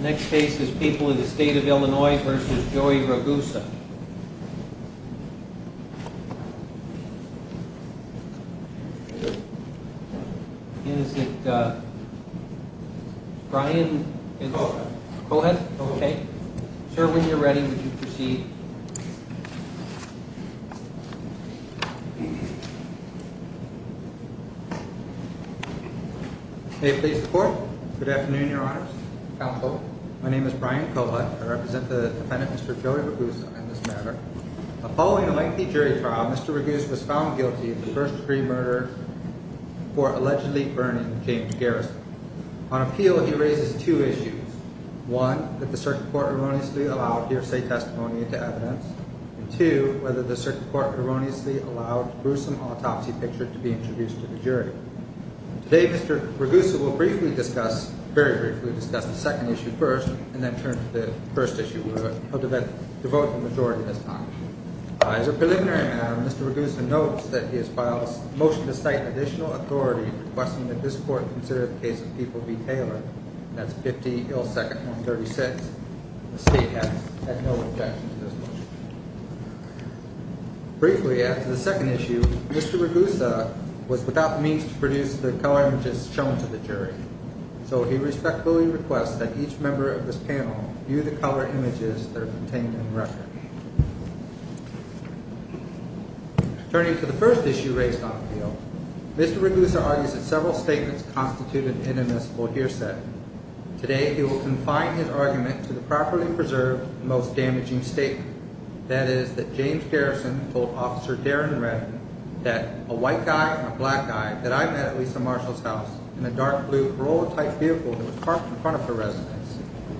Next case is People in the State of Illinois v. Joey Ragusa Is it Brian? Go ahead. Okay. Sir, when you're ready, would you proceed? May it please the Court? Good afternoon, Your Honors, Counsel. My name is Brian Kollett. I represent the defendant, Mr. Joey Ragusa, in this matter. Following a lengthy jury trial, Mr. Ragusa was found guilty of the first-degree murder for allegedly burning James Garrison. On appeal, he raises two issues. One, that the circuit court erroneously allowed hearsay testimony into evidence. And two, whether the circuit court erroneously allowed a gruesome autopsy picture to be introduced to the jury. Today, Mr. Ragusa will briefly discuss, very briefly discuss, the second issue first, and then turn to the first issue. He'll devote the majority of his time. As a preliminary matter, Mr. Ragusa notes that he has filed a motion to cite additional authority requesting that this Court consider the case of People v. Taylor. And that's 50-ill-second-one-thirty-six. The State has had no objection to this motion. Briefly, after the second issue, Mr. Ragusa was without means to produce the color images shown to the jury. So he respectfully requests that each member of this panel view the color images that are contained in the record. Turning to the first issue raised on appeal, Mr. Ragusa argues that several statements constitute an inadmissible hearsay. Today, he will confine his argument to the properly preserved, most damaging statement. That is, that James Garrison told Officer Darren Redman that, A white guy and a black guy that I met at Lisa Marshall's house in a dark blue Corolla-type vehicle that was parked in front of her residence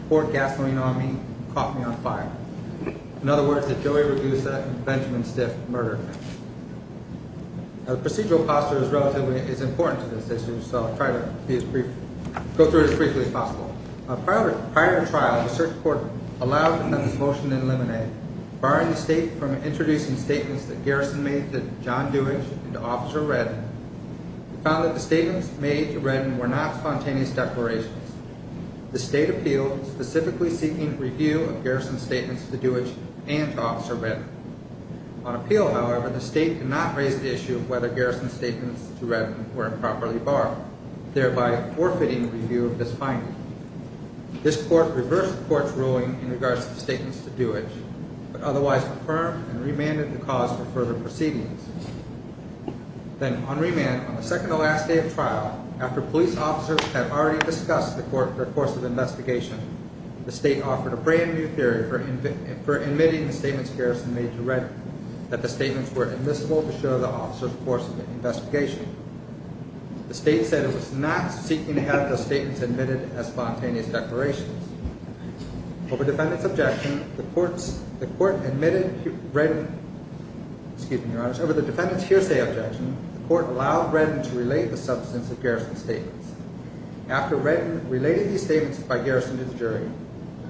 poured gasoline on me and caught me on fire. In other words, that Joey Ragusa and Benjamin Stiff murdered her. Procedural posture is important to this issue, so I'll try to go through it as briefly as possible. Prior to trial, the search court allowed the motion to eliminate, barring the State from introducing statements that Garrison made to John Dewage and to Officer Redman. We found that the statements made to Redman were not spontaneous declarations. The State appealed, specifically seeking review of Garrison's statements to Dewage and to Officer Redman. On appeal, however, the State could not raise the issue of whether Garrison's statements to Redman were improperly barred, thereby forfeiting review of this finding. This court reversed the court's ruling in regards to the statements to Dewage, but otherwise confirmed and remanded the cause for further proceedings. Then, on remand, on the second to last day of trial, after police officers had already discussed the course of the investigation, the State offered a brand new theory for admitting the statements Garrison made to Redman, that the statements were admissible to show the officer's course of the investigation. The State said it was not seeking to have the statements admitted as spontaneous declarations. Over defendant's objection, the court allowed Redman to relate the substance of Garrison's statements. After Redman related these statements by Garrison to the jury,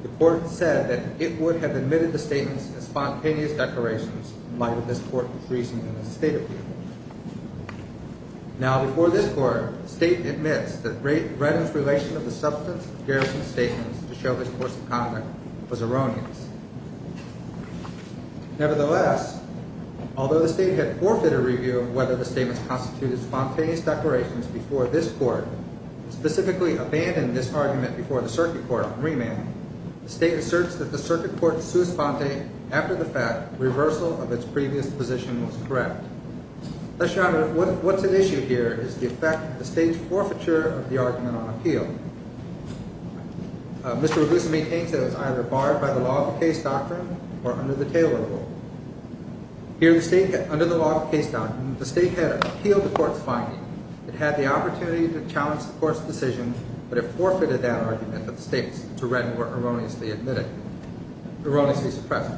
the court said that it would have admitted the statements as spontaneous declarations, in light of this court's reasoning in the State appeal. Now, before this court, the State admits that Redman's relation of the substance of Garrison's statements to show his course of conduct was erroneous. Nevertheless, although the State had forfeited review of whether the statements constituted spontaneous declarations before this court, and specifically abandoned this argument before the circuit court on remand, the State asserts that the circuit court's sous-pente, after the fact, reversal of its previous position was correct. What's at issue here is the effect of the State's forfeiture of the argument on appeal. Mr. Ragusa maintains that it was either barred by the law of case doctrine or under the Taylor Rule. Here, under the law of case doctrine, the State had appealed the court's finding. It had the opportunity to challenge the court's decision, but it forfeited that argument that the statements to Redman were erroneously suppressed.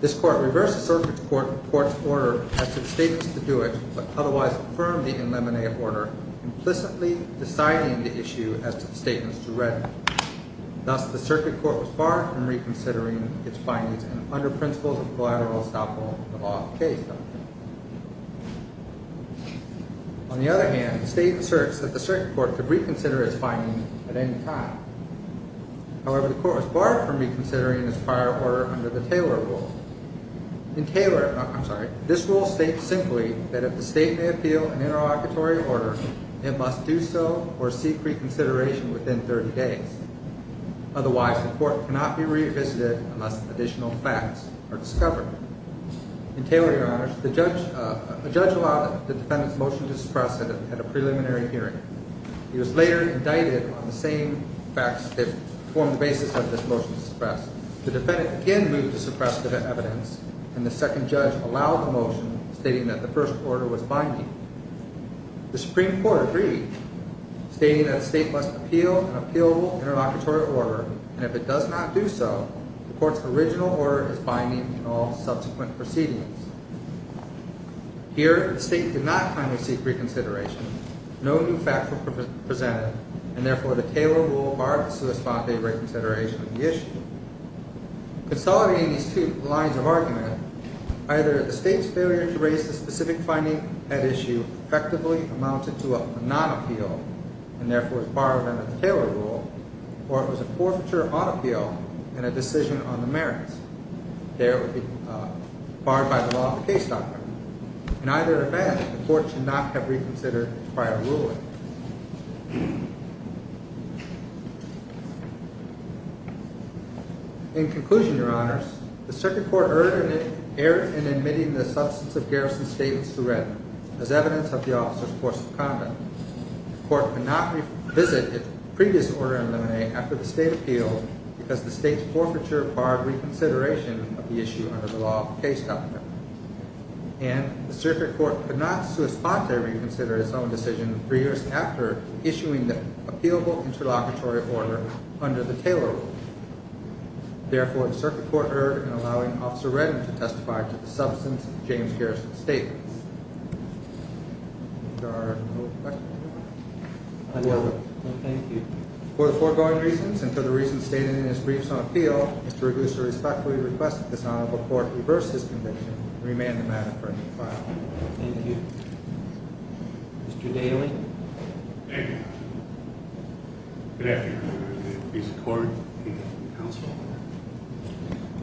This court reversed the circuit court's order as to the statements to do it, but otherwise affirmed the eliminated order, implicitly deciding the issue as to the statements to Redman. Thus, the circuit court was barred from reconsidering its findings under principles of collateral estoppel of the law of case doctrine. On the other hand, the State asserts that the circuit court could reconsider its findings at any time. However, the court was barred from reconsidering its prior order under the Taylor Rule. In Taylor, I'm sorry, this rule states simply that if the State may appeal an interlocutory order, it must do so or seek reconsideration within 30 days. Otherwise, the court cannot be revisited unless additional facts are discovered. In Taylor, Your Honor, the judge allowed the defendant's motion to suppress at a preliminary hearing. He was later indicted on the same facts that formed the basis of this motion to suppress. The defendant again moved to suppress the evidence, and the second judge allowed the motion, stating that the first order was binding. The Supreme Court agreed, stating that the State must appeal an appealable interlocutory order, and if it does not do so, the court's original order is binding in all subsequent proceedings. Here, the State did not kindly seek reconsideration. No new facts were presented, and therefore the Taylor Rule barred the sui sponde reconsideration of the issue. Consolidating these two lines of argument, either the State's failure to raise the specific finding at issue effectively amounted to a non-appeal, and therefore was barred under the Taylor Rule, or it was a forfeiture on appeal and a decision on the merits. There, it would be barred by the law of the case doctrine. In either event, the court should not have reconsidered the prior ruling. In conclusion, Your Honors, the Supreme Court erred in admitting the substance of Garrison's statements to red as evidence of the officer's force of conduct. The court could not revisit its previous order in the May after the State appealed because the State's forfeiture barred reconsideration of the issue under the law of the case doctrine. And the Circuit Court could not sui sponde reconsider its own decision three years after issuing the appealable interlocutory order under the Taylor Rule. Therefore, the Circuit Court erred in allowing Officer Redden to testify to the substance of James Garrison's statements. Mr. Garrison, do you have a question? No, thank you. For the foregoing reasons and for the reasons stated in his briefs on appeal, Mr. Reddison respectfully requests that this Honorable Court reverse his conviction and remand the matter for a new trial. Thank you. Mr. Daly? Thank you. Good afternoon, Your Honor.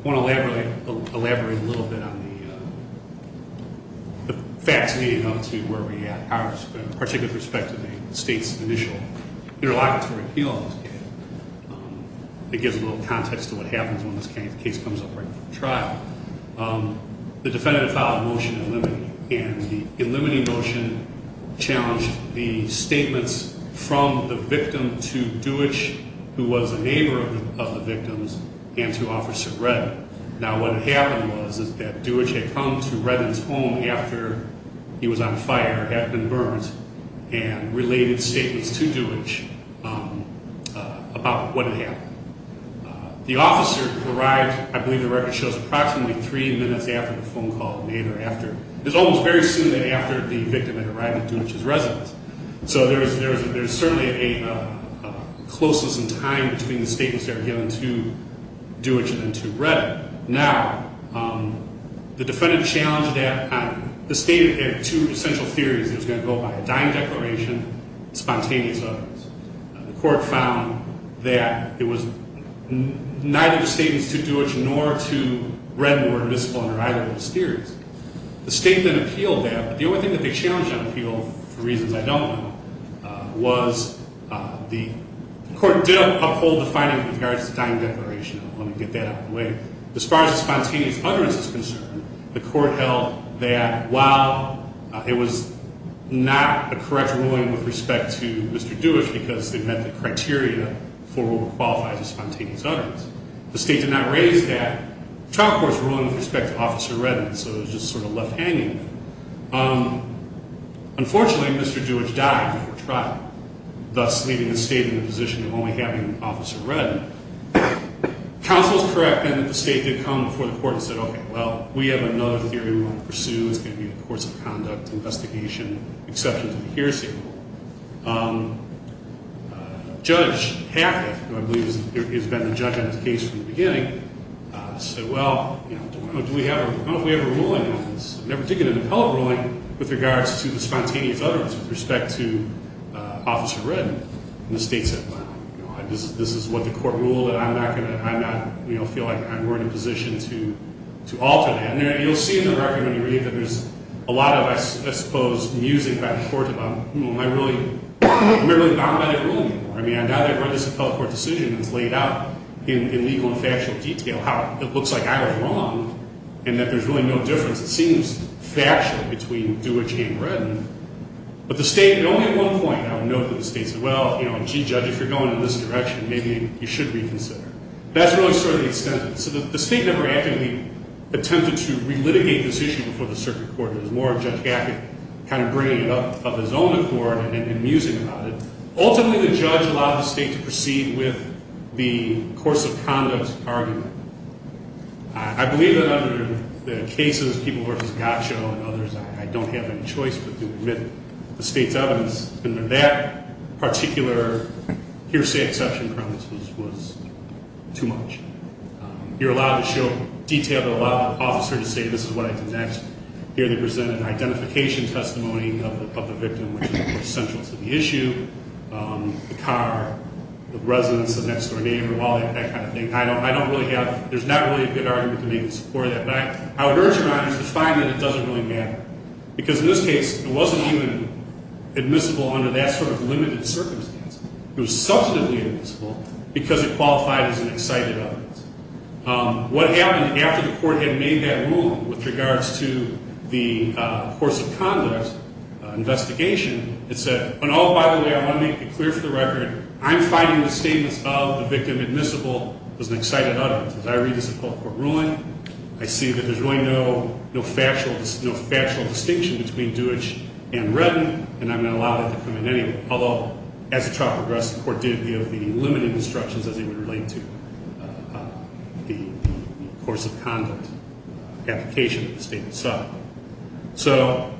I want to elaborate a little bit on the facts leading up to where we are in particular with respect to the State's initial interlocutory appeal on this case. It gives a little context to what happens when this case comes up for trial. The defendant filed a motion to eliminate. And the eliminating motion challenged the statements from the victim to Deutch, who was a neighbor of the victim's, and to Officer Redden. Now, what had happened was that Deutch had come to Redden's home after he was on fire, had been burned, and related statements to Deutch about what had happened. The officer arrived, I believe the record shows, approximately three minutes after the phone call was made or after. It was almost very soon after the victim had arrived at Deutch's residence. So there was certainly a closeness in time between the statements that were given to Deutch and then to Redden. Now, the defendant challenged that. The State had two essential theories. It was going to go by a dying declaration, spontaneous others. The court found that it was neither the statements to Deutch nor to Redden were admissible under either of those theories. The State then appealed that. But the only thing that they challenged on appeal, for reasons I don't know, was the court did uphold the finding in regards to the dying declaration. As far as the spontaneous utterance is concerned, the court held that while it was not a correct ruling with respect to Mr. Deutch, because they met the criteria for what would qualify as a spontaneous utterance, the State did not raise that. The trial court's ruling with respect to Officer Redden, so it was just sort of left hanging. Unfortunately, Mr. Deutch died before trial, thus leaving the State in the position of only having Officer Redden. Counsel is correct in that the State did come before the court and said, okay, well, we have another theory we want to pursue. It's going to be the courts of conduct, investigation, exceptions of the hearsay rule. Judge Hackett, who I believe has been the judge on this case from the beginning, said, well, I don't know if we have a ruling on this. I've never taken an appellate ruling with regards to the spontaneous utterance with respect to Officer Redden. And the State said, well, this is what the court ruled, and I'm not going to feel like I'm in a position to alter that. And you'll see in the record when you read that there's a lot of, I suppose, musing by the court about, hmm, am I really bound by the ruling? I mean, I doubt there were this appellate court decision that's laid out in legal and factual detail, how it looks like I was wrong and that there's really no difference. It seems factual between Deutch and Redden. But the State, only at one point, I would note that the State said, well, you know, gee, Judge, if you're going in this direction, maybe you should reconsider. That's really sort of the extent of it. So the State never actively attempted to relitigate this issue before the circuit court. It was more of Judge Hackett kind of bringing it up of his own accord and then musing about it. Ultimately, the judge allowed the State to proceed with the courts of conduct argument. I believe that under the cases, people versus Gottschall and others, I don't have any choice but to admit the State's evidence. And that particular hearsay exception premise was too much. You're allowed to show detail. You're allowed by the officer to say this is what I did next. Here they present an identification testimony of the victim, which is, of course, central to the issue. The car, the residence, the next-door neighbor, all that kind of thing. I don't really have – there's not really a good argument to make in support of that. What I would urge you on is to find that it doesn't really matter. Because in this case, it wasn't even admissible under that sort of limited circumstance. It was substantively admissible because it qualified as an excited evidence. What happened after the court had made that ruling with regards to the courts of conduct investigation, it said, oh, by the way, I want to make it clear for the record, I'm finding the statements of the victim admissible as an excited evidence. As I read this court ruling, I see that there's really no factual distinction between Deutch and Redden, and I'm going to allow that to come in anyway. Although, as the trial progressed, the court did give the limited instructions as it would relate to the courts of conduct application, the statement itself. So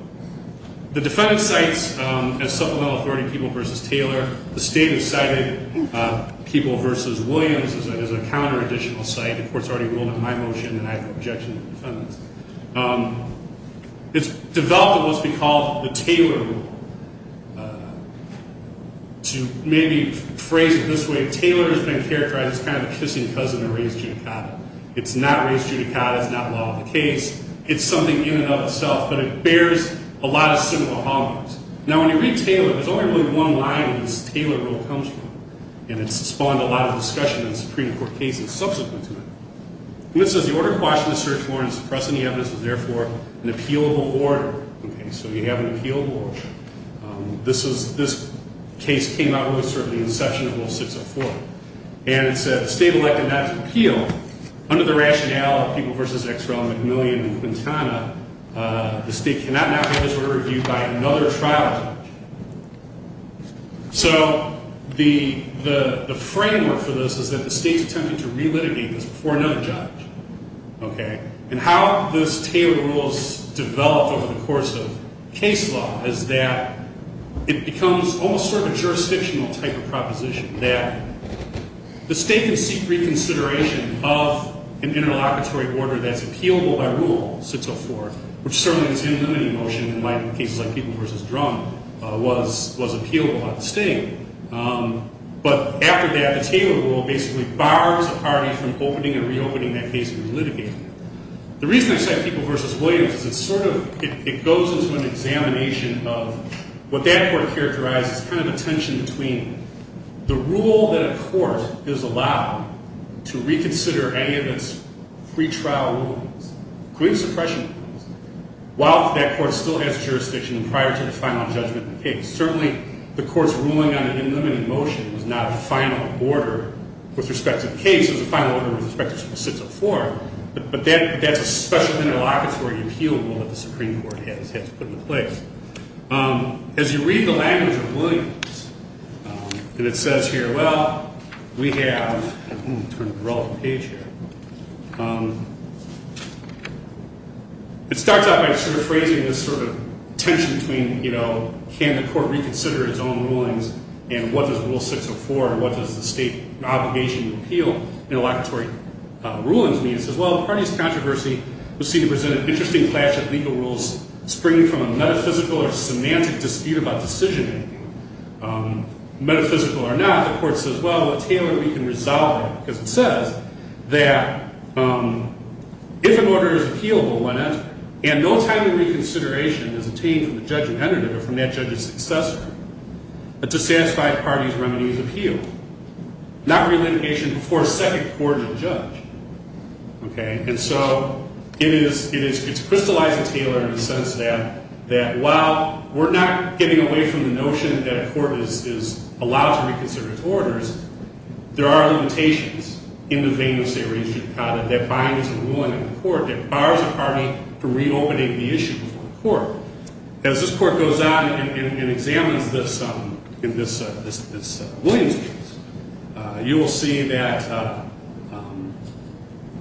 the defendant cites, as supplemental authority, Peeble v. Taylor. The state has cited Peeble v. Williams as a counter-additional site. The court's already ruled in my motion, and I have no objection to the defendant's. It's developed what's been called the Taylor rule. To maybe phrase it this way, Taylor has been characterized as kind of a kissing cousin of Reyes-Judicata. It's not Reyes-Judicata. It's not law of the case. It's something in and of itself, but it bears a lot of similar homonyms. Now, when you read Taylor, there's only really one line where this Taylor rule comes from, and it's spawned a lot of discussion in Supreme Court cases subsequent to it. And it says, the order in quashing the search warrant and suppressing the evidence is therefore an appealable order. Okay, so you have an appealable order. This case came out with sort of the inception of Rule 604. And it said the state elected not to appeal. Under the rationale of Peeble v. Exrell, McMillian, and Quintana, the state cannot now have this order reviewed by another trial judge. So the framework for this is that the state's attempting to relitigate this before another judge. Okay? And how those Taylor rules developed over the course of case law is that it becomes almost sort of a jurisdictional type of proposition that the state can seek reconsideration of an interlocutory order that's appealable by Rule 604, which certainly is in limiting motion in cases like Peeble v. Drum was appealable by the state. But after that, the Taylor rule basically bars a party from opening and reopening that case and relitigating it. The reason I say Peeble v. Williams is it sort of goes into an examination of what that court characterized as kind of a tension between the rule that a court is allowed to reconsider any of its pretrial rulings, including suppression rulings, while that court still has jurisdiction prior to the final judgment of the case. Certainly, the court's ruling on an in-limiting motion is not a final order with respect to the case. It was a final order with respect to Rule 604. But that's a special interlocutory appeal rule that the Supreme Court has had to put in place. As you read the language of Williams, and it says here, well, we have—I'm going to turn the relevant page here. It starts out by sort of phrasing this sort of tension between, you know, can the court reconsider its own rulings, and what does Rule 604 and what does the state obligation to appeal interlocutory rulings mean? It says, well, the party's controversy was seen to present an interesting clash of legal rules springing from a metaphysical or semantic dispute about decision-making. Metaphysical or not, the court says, well, let's see what we can resolve. Because it says that if an order is appealable, why not, and no timely reconsideration is obtained from the judge who entered it or from that judge's successor, but to satisfy the party's remedies of appeal, not relitigation before a second court or judge. Okay? And so it's crystallizing Taylor in the sense that while we're not getting away from the notion that a court is allowed to reconsider its orders, there are limitations in the vein of state religion that bind us to the ruling of the court, that bars the party from reopening the issue before the court. As this court goes on and examines this in this Williams case, you will see that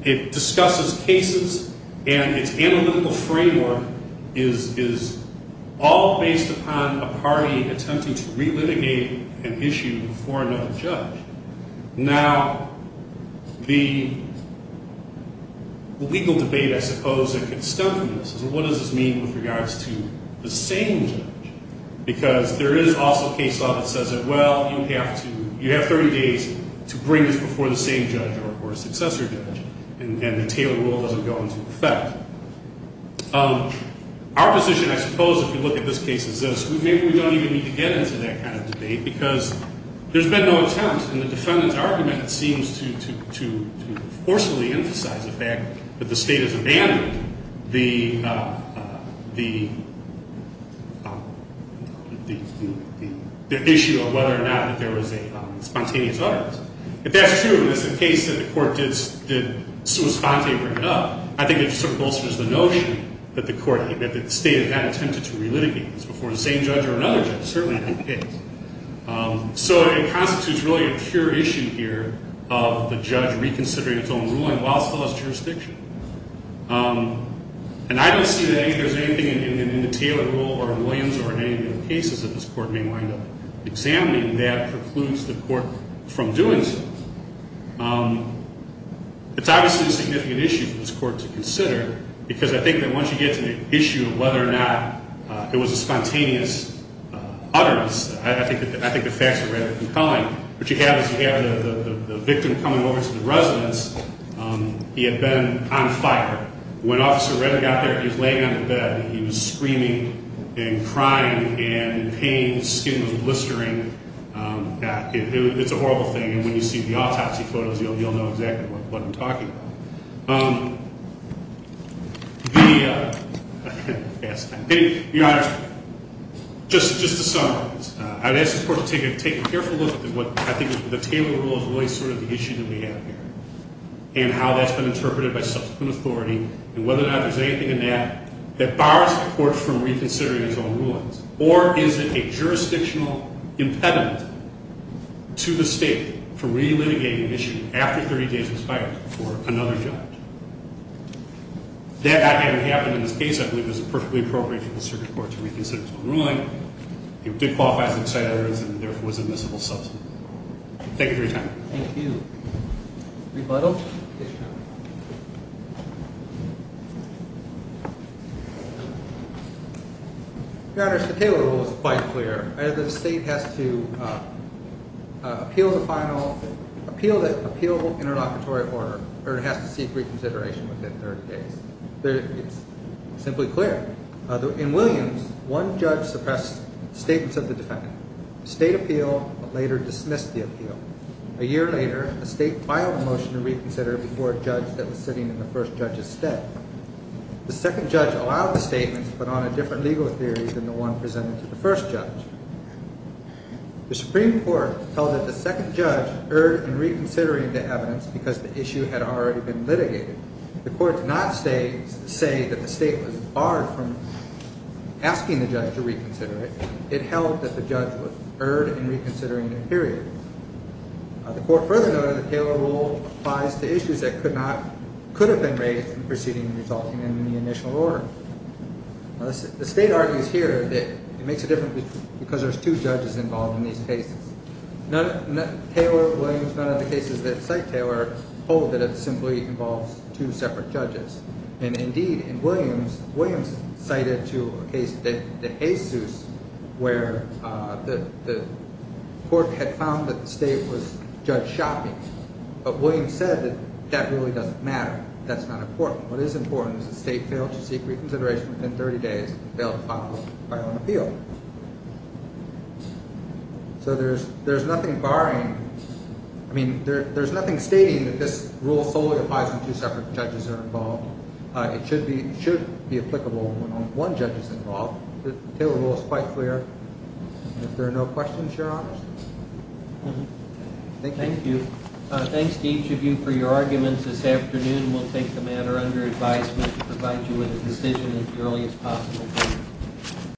it discusses cases and its analytical framework is all based upon a party attempting to relitigate an issue before another judge. Now, the legal debate, I suppose, that could stem from this is what does this mean with regards to the same judge? Because there is also a case law that says that, well, you have 30 days to bring this before the same judge or a successor judge, and the Taylor rule doesn't go into effect. Our position, I suppose, if you look at this case, is this. Maybe we don't even need to get into that kind of debate because there's been no attempt, and the defendant's argument seems to forcefully emphasize the fact that the state has abandoned the issue of whether or not there was a spontaneous utterance. If that's true, and it's the case that the court did sui sponte bring it up, I think it bolsters the notion that the state had not attempted to relitigate this before the same judge or another judge, certainly in that case. So it constitutes really a pure issue here of the judge reconsidering its own ruling while still as jurisdiction. And I don't see that there's anything in the Taylor rule or in Williams or in any of the cases that this court may wind up examining that precludes the court from doing so. It's obviously a significant issue for this court to consider because I think that once you get to the issue of whether or not there was a spontaneous utterance, I think the facts are rather compelling. What you have is you have the victim coming over to the residence. He had been on fire. When Officer Redding got there, he was laying on the bed, and he was screaming and crying in pain. His skin was blistering. It's a horrible thing, and when you see the autopsy photos, you'll know exactly what I'm talking about. Your Honor, just to summarize, I'd ask the court to take a careful look at what I think the Taylor rule is really sort of the issue that we have here. And how that's been interpreted by subsequent authority, and whether or not there's anything in that that bars the court from reconsidering its own rulings. Or is it a jurisdictional impediment to the state for re-litigating an issue after 30 days was fired for another judge? That, again, happened in this case. I believe it was perfectly appropriate for the circuit court to reconsider its own ruling. It did qualify as an excited utterance and therefore was admissible subsequently. Thank you for your time. Rebuttal? Yes, Your Honor. Your Honor, the Taylor rule is quite clear. The state has to appeal the final interlocutory order, or it has to seek reconsideration within 30 days. It's simply clear. In Williams, one judge suppressed statements of the defendant. The state appealed, but later dismissed the appeal. A year later, the state filed a motion to reconsider before a judge that was sitting in the first judge's step. The second judge allowed the statement to put on a different legal theory than the one presented to the first judge. The Supreme Court held that the second judge erred in reconsidering the evidence because the issue had already been litigated. The court did not say that the state was barred from asking the judge to reconsider it. It held that the judge was erred in reconsidering the period. The court further noted that the Taylor rule applies to issues that could have been raised in the proceeding resulting in the initial order. The state argues here that it makes a difference because there are two judges involved in these cases. None of the cases that cite Taylor hold that it simply involves two separate judges. Indeed, in Williams, Williams cited the case of De Jesus where the court had found that the state was judge shopping. But Williams said that that really doesn't matter. That's not important. What is important is that the state failed to seek reconsideration within 30 days and failed to file an appeal. So there's nothing barring, I mean, there's nothing stating that this rule solely applies when two separate judges are involved. It should be applicable when only one judge is involved. The Taylor rule is quite clear. If there are no questions, Your Honors. Thank you. Thank you. Thanks to each of you for your arguments this afternoon. We'll take the matter under advisement to provide you with a decision as early as possible.